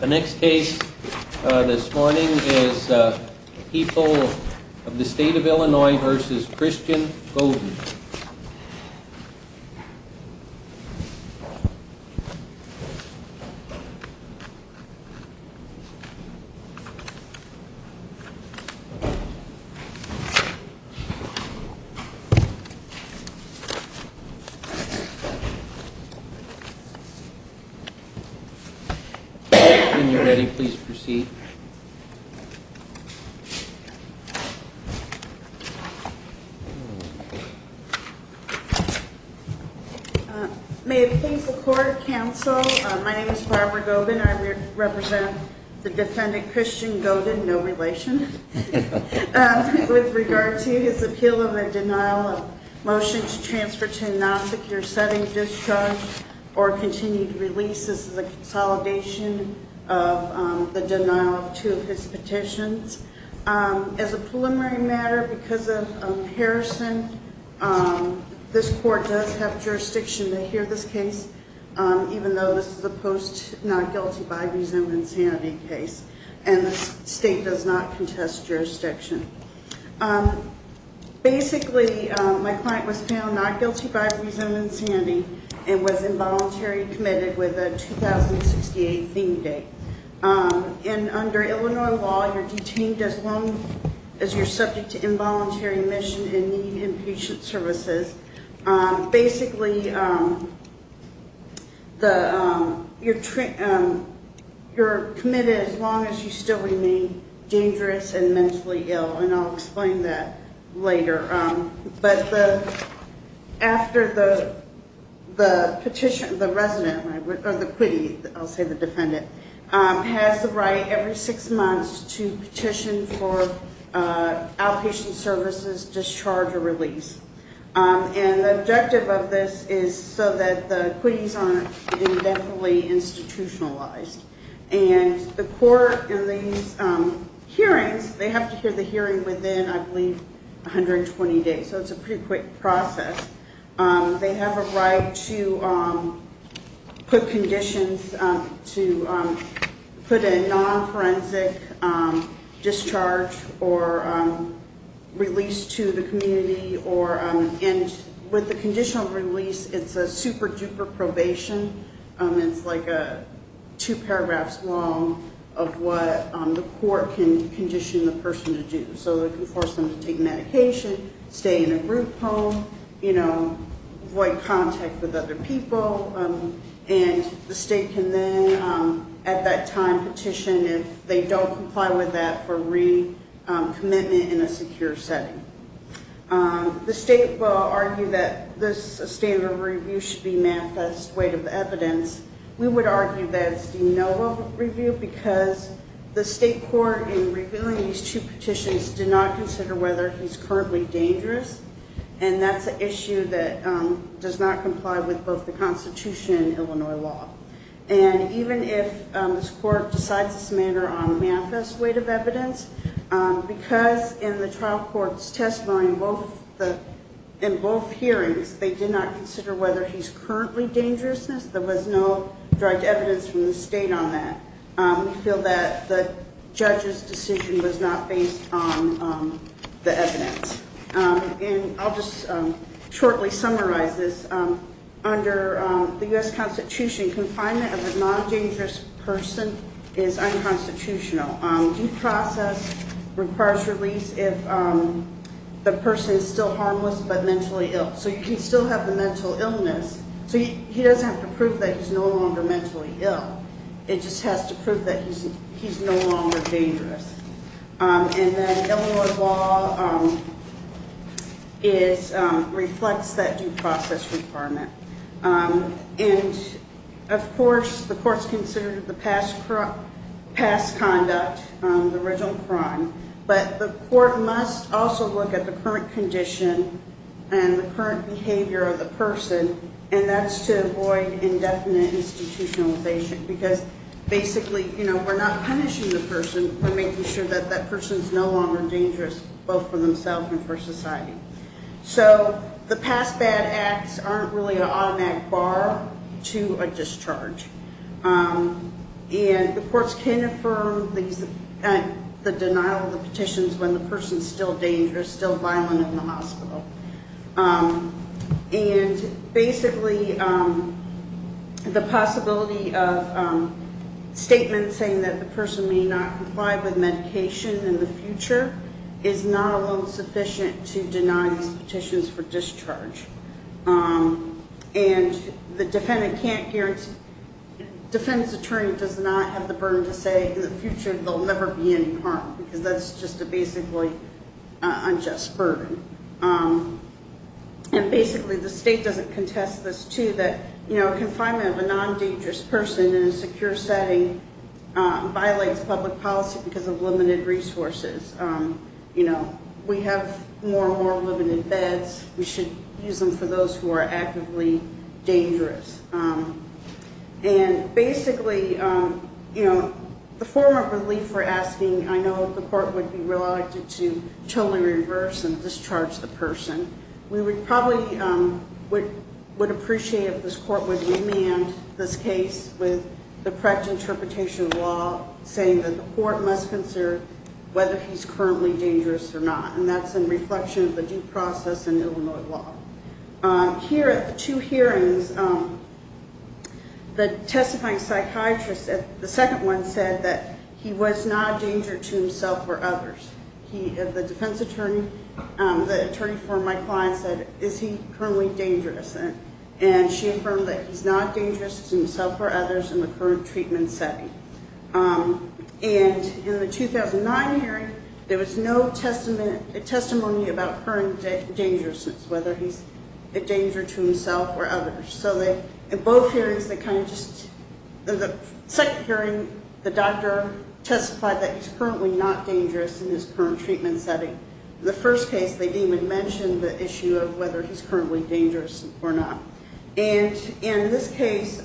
The next case this morning is People of the State of Illinois v. Christian Goeden. When you're ready, please proceed. May it please the court, counsel, my name is Barbara Goeden. I represent the defendant, Christian Goeden, no relation. With regard to his appeal of a denial of motion to transfer to a non-secure setting, discharge, or continued release. This is a consolidation of the denial of two of his petitions. As a preliminary matter, because of Harrison, this court does have jurisdiction to hear this case, even though this is a post-Not Guilty by Resentment and Sanity case, and the state does not contest jurisdiction. Basically, my client was found not guilty by Resentment and Sanity and was involuntarily committed with a 2068 theme date. Under Illinois law, you're detained as long as you're subject to involuntary admission and need inpatient services. Basically, you're committed as long as you still remain dangerous and mentally ill, and I'll explain that later. After the petition, the resident, or the quittee, I'll say the defendant, has the right every six months to petition for outpatient services, discharge, or release. The objective of this is so that the quittees aren't indefinitely institutionalized. The court in these hearings, they have to hear the hearing within, I believe, 120 days, so it's a pretty quick process. They have a right to put conditions, to put a non-forensic discharge or release to the community. With the conditional release, it's a super-duper probation. It's two paragraphs long of what the court can condition the person to do. It can force them to take medication, stay in a group home, avoid contact with other people. The state can then, at that time, petition if they don't comply with that for recommitment in a secure setting. The state will argue that this standard of review should be manifest weight of evidence. We would argue that it's de novo review because the state court, in reviewing these two petitions, did not consider whether he's currently dangerous. That's an issue that does not comply with both the Constitution and Illinois law. Even if this court decides this matter on manifest weight of evidence, because in the trial court's testimony in both hearings, they did not consider whether he's currently dangerous, there was no direct evidence from the state on that. We feel that the judge's decision was not based on the evidence. I'll just shortly summarize this. Under the U.S. Constitution, confinement of a non-dangerous person is unconstitutional. Due process requires release if the person is still harmless but mentally ill. You can still have the mental illness. He doesn't have to prove that he's no longer mentally ill. It just has to prove that he's no longer dangerous. Illinois law reflects that due process requirement. Of course, the court's considered the past conduct, the original crime, but the court must also look at the current condition and the current behavior of the person, and that's to avoid indefinite institutionalization because basically we're not punishing the person. We're making sure that that person's no longer dangerous both for themselves and for society. So the past bad acts aren't really an automatic bar to a discharge, and the courts can affirm the denial of the petitions when the person's still dangerous, still violent in the hospital. And basically the possibility of statements saying that the person may not comply with medication in the future is not alone sufficient to deny these petitions for discharge. And the defendant can't guarantee, the defendant's attorney does not have the burden to say in the future they'll never be in harm because that's just a basically unjust burden. And basically the state doesn't contest this, too, that confinement of a non-dangerous person in a secure setting violates public policy because of limited resources. We have more and more limited beds. We should use them for those who are actively dangerous. I know the court would be reluctant to totally reverse and discharge the person. We probably would appreciate if this court would remand this case with the correct interpretation of law saying that the court must consider whether he's currently dangerous or not, and that's in reflection of the due process in Illinois law. Here at the two hearings, the testifying psychiatrist at the second one said that he was not a danger to himself or others. The defense attorney, the attorney for my client said, is he currently dangerous? And she affirmed that he's not dangerous to himself or others in the current treatment setting. And in the 2009 hearing, there was no testimony about current dangerousness, whether he's a danger to himself or others. So in both hearings, the second hearing, the doctor testified that he's currently not dangerous in his current treatment setting. The first case, they didn't even mention the issue of whether he's currently dangerous or not. And in this case,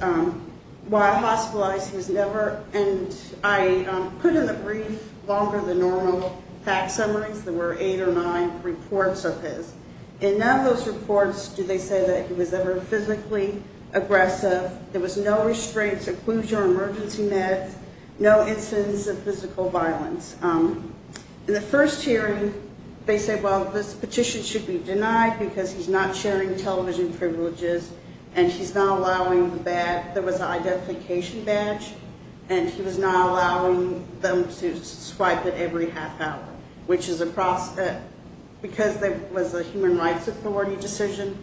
while hospitalized, he was never, and I put in the brief longer than normal fact summaries. There were eight or nine reports of his. In none of those reports did they say that he was ever physically aggressive. There was no restraints, occlusion, or emergency meds, no incidents of physical violence. In the first hearing, they said, well, this petition should be denied because he's not sharing television privileges, and he's not allowing the badge, there was an identification badge, and he was not allowing them to swipe it every half hour, which is because it was a human rights authority decision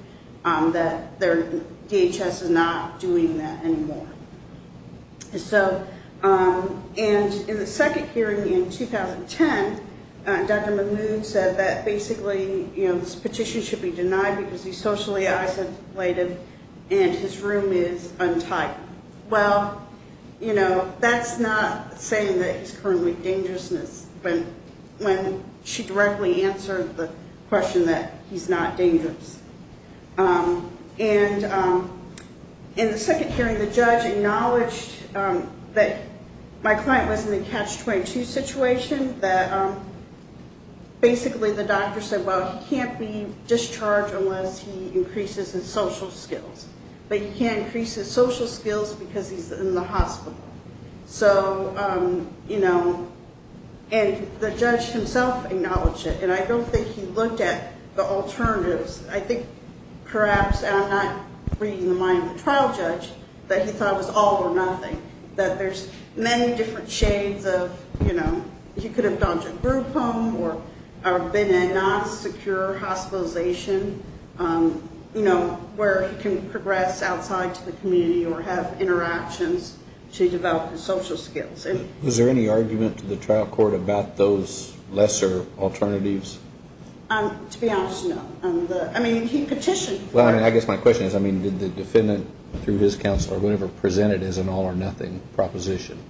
that their DHS is not doing that anymore. So, and in the second hearing in 2010, Dr. Mahmoud said that basically, you know, this petition should be denied because he's socially isolated and his room is untied. Well, you know, that's not saying that he's currently dangerous, but when she directly answered the question that he's not dangerous. And in the second hearing, the judge acknowledged that my client was in a catch-22 situation, that basically the doctor said, well, he can't be discharged unless he increases his social skills, but he can't increase his social skills because he's in the hospital. So, you know, and the judge himself acknowledged it, and I don't think he looked at the alternatives. I think perhaps, and I'm not reading the mind of the trial judge, that he thought it was all or nothing, that there's many different shades of, you know, he could have gone to a group home or been in a non-secure hospitalization, you know, where he can progress outside to the community or have interactions to develop his social skills. Is there any argument to the trial court about those lesser alternatives? To be honest, no. I mean, he petitioned. Well, I guess my question is, I mean, did the defendant, through his counsel, or whoever presented his an all-or-nothing proposition?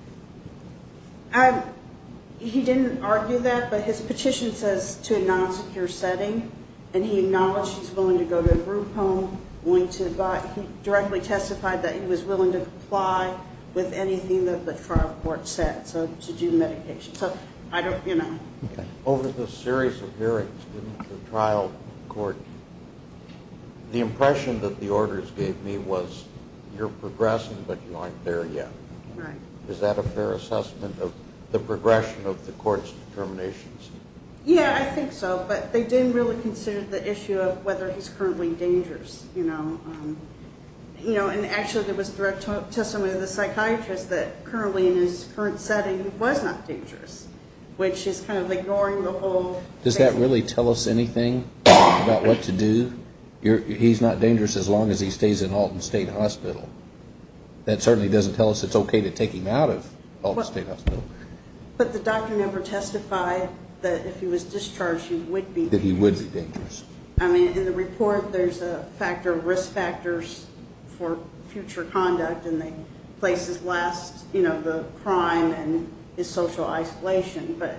He didn't argue that, but his petition says to a non-secure setting, and he acknowledged he's willing to go to a group home. He directly testified that he was willing to comply with anything that the trial court said to do medication. Over the series of hearings in the trial court, the impression that the orders gave me was, you're progressing, but you aren't there yet. Is that a fair assessment of the progression of the court's determinations? Yeah, I think so, but they didn't really consider the issue of whether he's currently dangerous. You know, and actually there was direct testimony of the psychiatrist that currently in his current setting was not dangerous, which is kind of ignoring the whole thing. Does that really tell us anything about what to do? He's not dangerous as long as he stays in Alton State Hospital. That certainly doesn't tell us it's okay to take him out of Alton State Hospital. But the doctor never testified that if he was discharged, he would be. That he would be dangerous. I mean, in the report, there's a factor of risk factors for future conduct, and they place his last, you know, the crime and his social isolation, but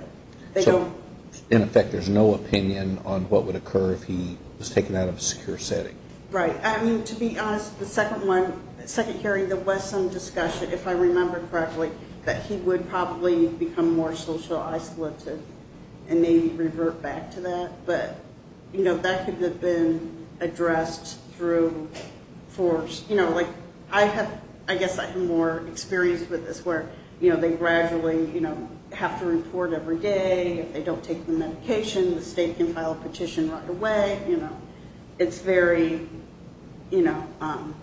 they don't. So, in effect, there's no opinion on what would occur if he was taken out of a secure setting. Right. I mean, to be honest, the second one, the second hearing, there was some discussion, if I remember correctly, that he would probably become more social isolated and maybe revert back to that. But, you know, that could have been addressed through force. You know, like, I guess I have more experience with this where, you know, they gradually have to report every day. If they don't take the medication, the state can file a petition right away. You know, it's very, you know,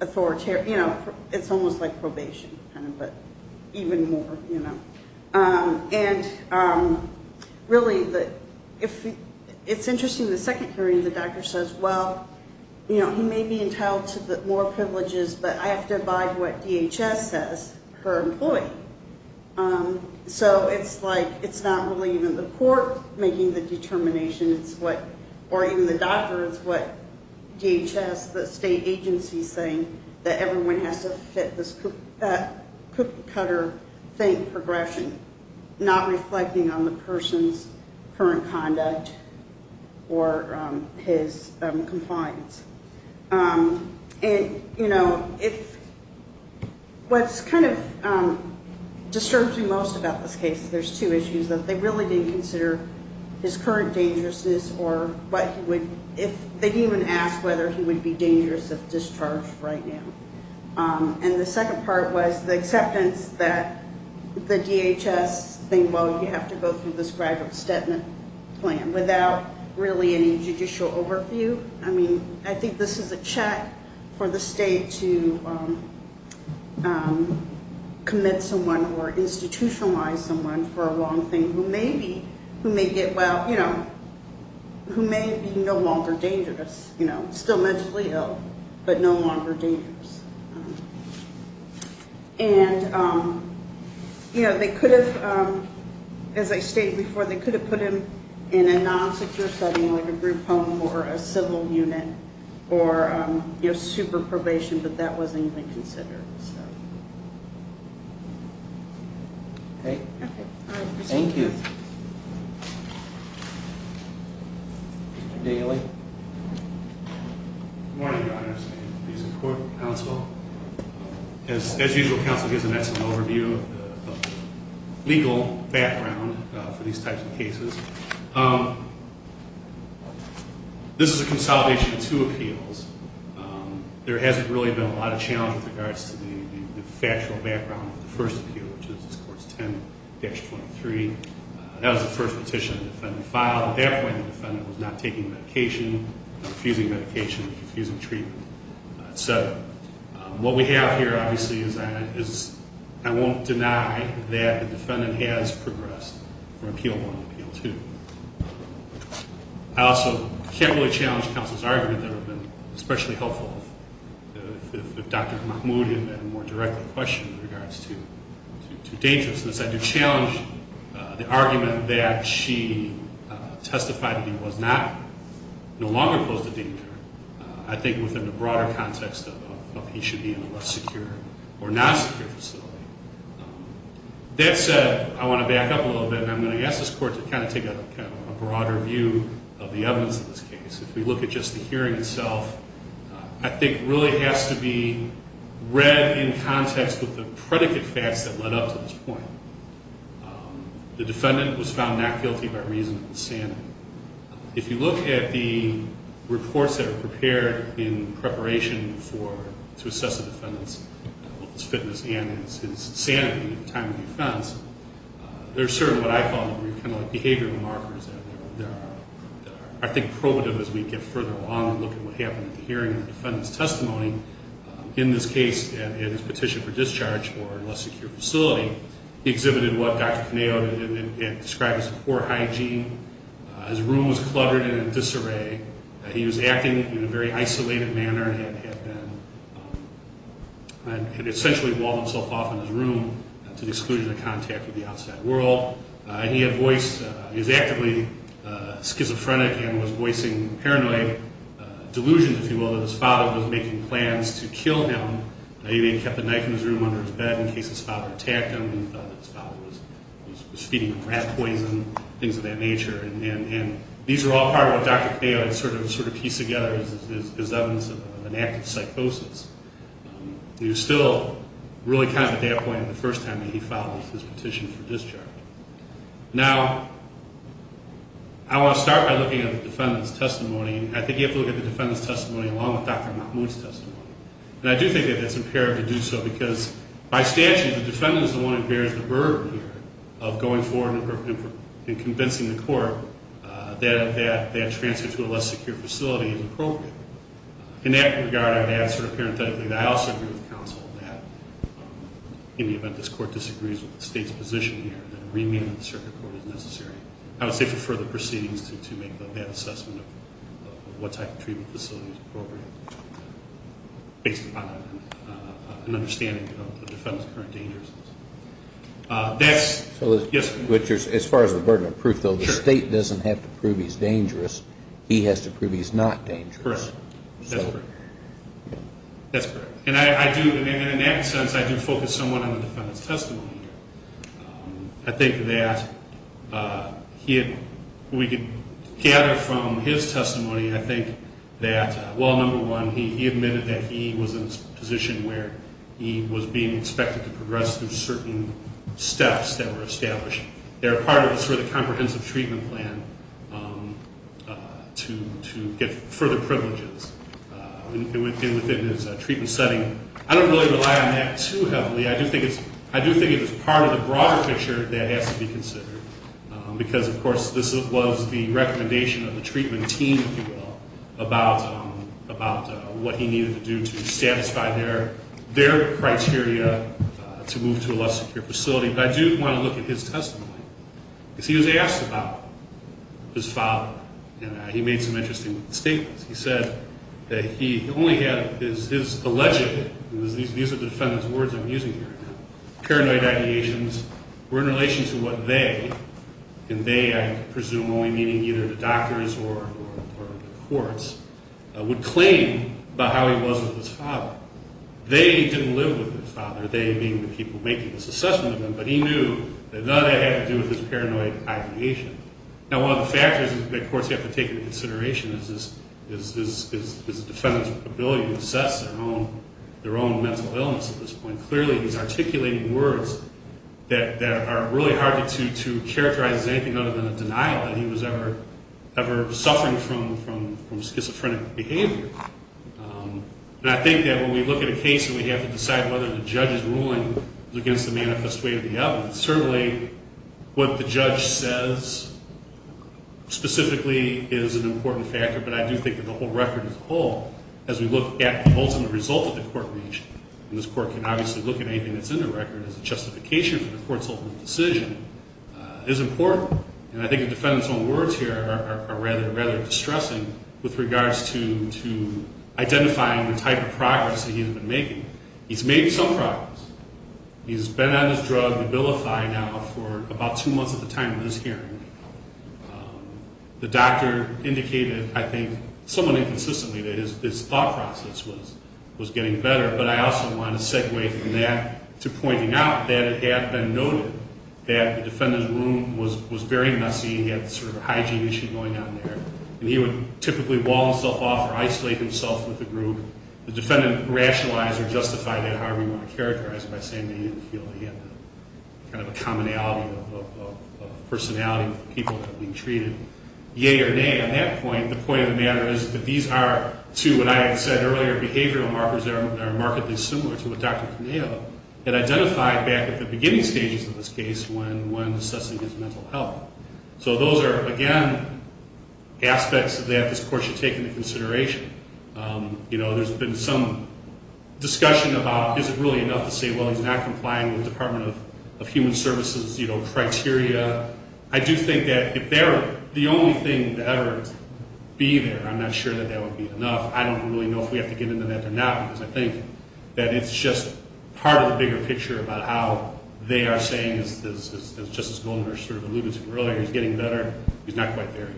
authoritarian. You know, it's almost like probation kind of, but even more, you know. And really, it's interesting, the second hearing, the doctor says, well, you know, he may be entitled to more privileges, but I have to abide what DHS says per employee. So it's like it's not really even the court making the determination. It's what, or even the doctor, it's what DHS, the state agency, saying that everyone has to fit this cookie-cutter thing, progression, not reflecting on the person's current conduct or his compliance. And, you know, what's kind of disturbed me most about this case, there's two issues, that they really didn't consider his current dangerousness or what he would, if they even asked whether he would be dangerous if discharged right now. And the second part was the acceptance that the DHS think, well, you have to go through this graduate statement plan without really any judicial overview. I mean, I think this is a check for the state to commit someone or institutionalize someone for a wrong thing who may be, who may get, well, you know, who may be no longer dangerous, you know, still mentally ill, but no longer dangerous. And, you know, they could have, as I stated before, they could have put him in a non-secure setting like a group home or a civil unit or, you know, super probation, but that wasn't even considered, so. Okay. Thank you. Mr. Daley. Good morning, Your Honor. It's a pleasure to be in court, counsel. As usual, counsel gives an excellent overview of the legal background for these types of cases. This is a consolidation of two appeals. There hasn't really been a lot of challenge with regards to the factual background of the first appeal, which is this Court's 10-23. That was the first petition the defendant filed. At that point, the defendant was not taking medication, not refusing medication, refusing treatment, et cetera. What we have here, obviously, is I won't deny that the defendant has progressed from Appeal 1 to Appeal 2. I also can't really challenge counsel's argument that it would have been especially helpful if Dr. Mahmoud had had a more direct question with regards to dangerousness. I do challenge the argument that she testified that he was not, no longer posed a danger. I think within the broader context of he should be in a less secure or non-secure facility. That said, I want to back up a little bit, and I'm going to ask this Court to kind of take a broader view of the evidence in this case. If we look at just the hearing itself, I think it really has to be read in context with the predicate facts that led up to this point. The defendant was found not guilty by reason of insanity. If you look at the reports that are prepared in preparation to assess the defendant's fitness and his sanity at the time of the offense, there's certainly what I call behavioral markers that are, I think, probative as we get further along and look at what happened at the hearing and the defendant's testimony. In this case, at his petition for discharge for a less secure facility, he exhibited what Dr. Caneo described as poor hygiene. His room was cluttered and in disarray. He was acting in a very isolated manner and had essentially walled himself off in his room to the exclusion of contact with the outside world. He had voiced, he was actively schizophrenic and was voicing paranoid delusions, if you will, that his father was making plans to kill him. He had kept a knife in his room under his bed in case his father attacked him. He thought his father was feeding rat poison, things of that nature. And these are all part of what Dr. Caneo had sort of pieced together as evidence of an active psychosis. He was still really kind of at that point the first time that he filed his petition for discharge. Now, I want to start by looking at the defendant's testimony. I think you have to look at the defendant's testimony along with Dr. Mahmood's testimony. And I do think that that's imperative to do so because by statute, the defendant is the one who bears the burden here of going forward and convincing the court that that transfer to a less secure facility is appropriate. In that regard, I would add sort of parenthetically that I also agree with counsel that in the event this court disagrees with the state's position here, that a remand to the circuit court is necessary, I would say, for further proceedings to make that assessment of what type of treatment facility is appropriate. Based upon an understanding of the defendant's current dangerousness. Yes? As far as the burden of proof, though, the state doesn't have to prove he's dangerous. He has to prove he's not dangerous. Correct. That's correct. And in that sense, I do focus somewhat on the defendant's testimony here. I think that we could gather from his testimony, I think that, well, number one, he admitted that he was in a position where he was being expected to progress through certain steps that were established. They're part of sort of the comprehensive treatment plan to get further privileges. And within his treatment setting, I don't really rely on that too heavily. I do think it's part of the broader picture that has to be considered. Because, of course, this was the recommendation of the treatment team, if you will, about what he needed to do to satisfy their criteria to move to a less secure facility. But I do want to look at his testimony. Because he was asked about his father. And he made some interesting statements. He said that he only had his alleged, and these are the defendant's words I'm using here, paranoid ideations were in relation to what they, and they I presume only meaning either the doctors or the courts, would claim about how he was with his father. They didn't live with his father, they being the people making this assessment of him, but he knew that none of that had to do with his paranoid ideation. Now, one of the factors that courts have to take into consideration is the defendant's ability to assess their own mental illness at this point. Clearly, he's articulating words that are really hard to characterize as anything other than a denial that he was ever suffering from schizophrenic behavior. And I think that when we look at a case and we have to decide whether the judge's ruling is against the manifest way of the evidence, certainly what the judge says specifically is an important factor, but I do think that the whole record as a whole, as we look at the ultimate result that the court reached, and this court can obviously look at anything that's in the record as a justification for the court's ultimate decision, is important. And I think the defendant's own words here are rather distressing with regards to identifying the type of progress that he's been making. He's made some progress. He's been on his drug, Ubilify, now for about two months at the time of this hearing. The doctor indicated, I think, somewhat inconsistently that his thought process was getting better, but I also want to segue from that to pointing out that it had been noted that the defendant's room was very messy, he had sort of a hygiene issue going on there, and he would typically wall himself off or isolate himself with the group. The defendant rationalized or justified that however he wanted to characterize it by saying that he didn't feel he had the kind of commonality of personality with the people that were being treated. Yea or nay on that point, the point of the matter is that these are, to what I had said earlier, behavioral markers that are markedly similar to what Dr. Caneo had identified back at the beginning stages of this case when assessing his mental health. So those are, again, aspects that this court should take into consideration. There's been some discussion about is it really enough to say, well, he's not complying with Department of Human Services criteria. I do think that if they're the only thing to ever be there, I'm not sure that that would be enough. I don't really know if we have to get into that or not because I think that it's just part of the bigger picture about how they are saying, as Justice Goldner sort of alluded to earlier, he's getting better, he's not quite there yet.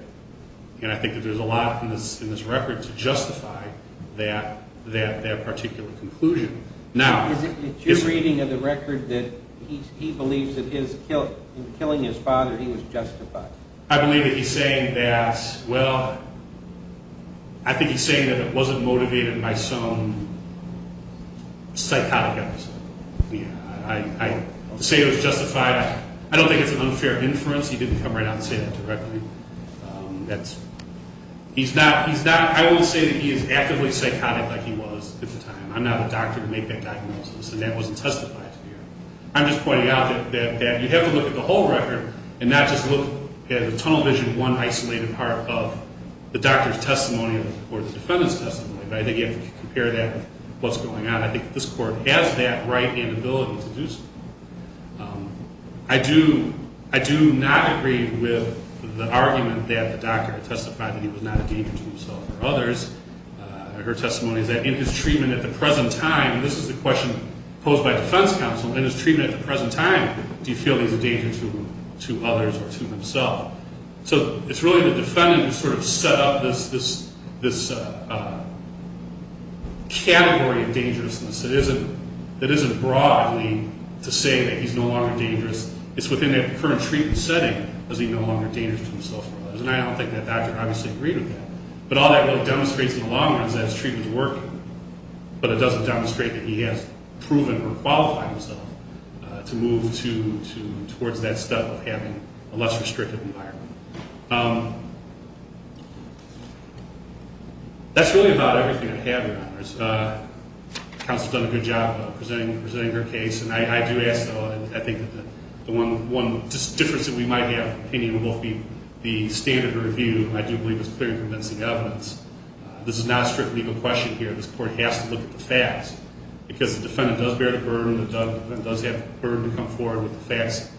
And I think that there's a lot in this record to justify that particular conclusion. Is it your reading of the record that he believes that in killing his father he was justified? I believe that he's saying that, well, I think he's saying that it wasn't motivated by some psychotic episode. To say it was justified, I don't think it's an unfair inference. He didn't come right out and say that directly. I won't say that he is actively psychotic like he was at the time. I'm not a doctor to make that diagnosis and that wasn't testified to here. I'm just pointing out that you have to look at the whole record and not just look at the tunnel vision one isolated part of the doctor's testimony or the defendant's testimony. But I think you have to compare that with what's going on. I think this court has that right and ability to do so. I do not agree with the argument that the doctor testified that he was not a danger to himself or others. Her testimony is that in his treatment at the present time, and this is the question posed by defense counsel, in his treatment at the present time, do you feel he's a danger to others or to himself? So it's really the defendant who sort of set up this category of dangerousness that isn't broadly to say that he's no longer dangerous. It's within that current treatment setting that he's no longer dangerous to himself or others. And I don't think that doctor obviously agreed with that. But all that really demonstrates in the long run is that his treatment is working. But it doesn't demonstrate that he has proven or qualified himself to move towards that step of having a less restrictive environment. That's really about everything I have, Your Honors. Counsel has done a good job of presenting her case. And I do ask, though, I think the one difference that we might have in opinion would both be the standard review, and I do believe it's clear and convincing evidence. This is not a strict legal question here. This court has to look at the facts because the defendant does bear the burden and does have the burden to come forward with the facts.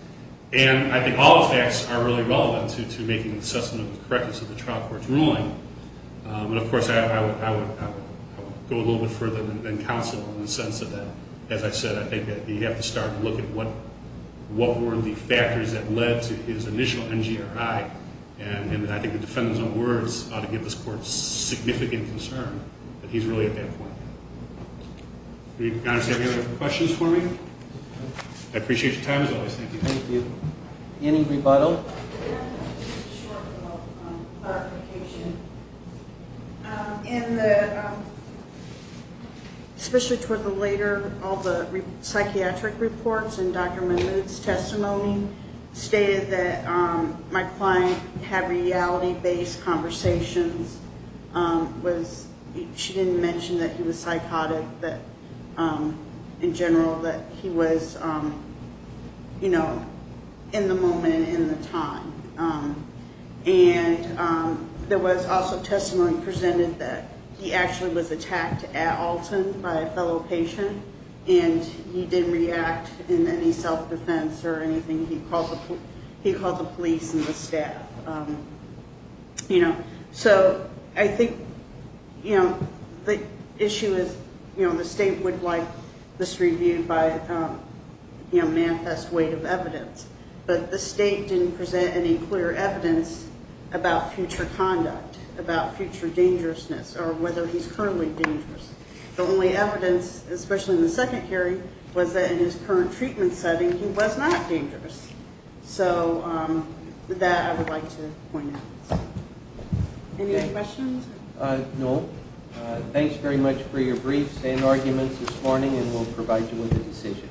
And I think all the facts are really relevant to making an assessment of the correctness of the trial court's ruling. And, of course, I would go a little bit further than counsel in the sense that, as I said, I think that you have to start to look at what were the factors that led to his initial NGRI. And I think the defendant's own words ought to give this court significant concern that he's really at that point. Your Honors, do you have any other questions for me? I appreciate your time as always. Thank you. Thank you. Any rebuttal? Just a short clarification. In the, especially toward the later, all the psychiatric reports and Dr. Mahmoud's testimony stated that my client had reality-based conversations. She didn't mention that he was psychotic, that in general that he was, you know, in the moment and in the time. And there was also testimony presented that he actually was attacked at Alton by a fellow patient, and he didn't react in any self-defense or anything. He called the police and the staff, you know. So I think, you know, the issue is, you know, the state would like this reviewed by, you know, manifest weight of evidence. But the state didn't present any clear evidence about future conduct, about future dangerousness, or whether he's currently dangerous. The only evidence, especially in the second hearing, was that in his current treatment setting, he was not dangerous. So that I would like to point out. Any other questions? No. Thanks very much for your briefs and arguments this morning, and we'll provide you with a decision.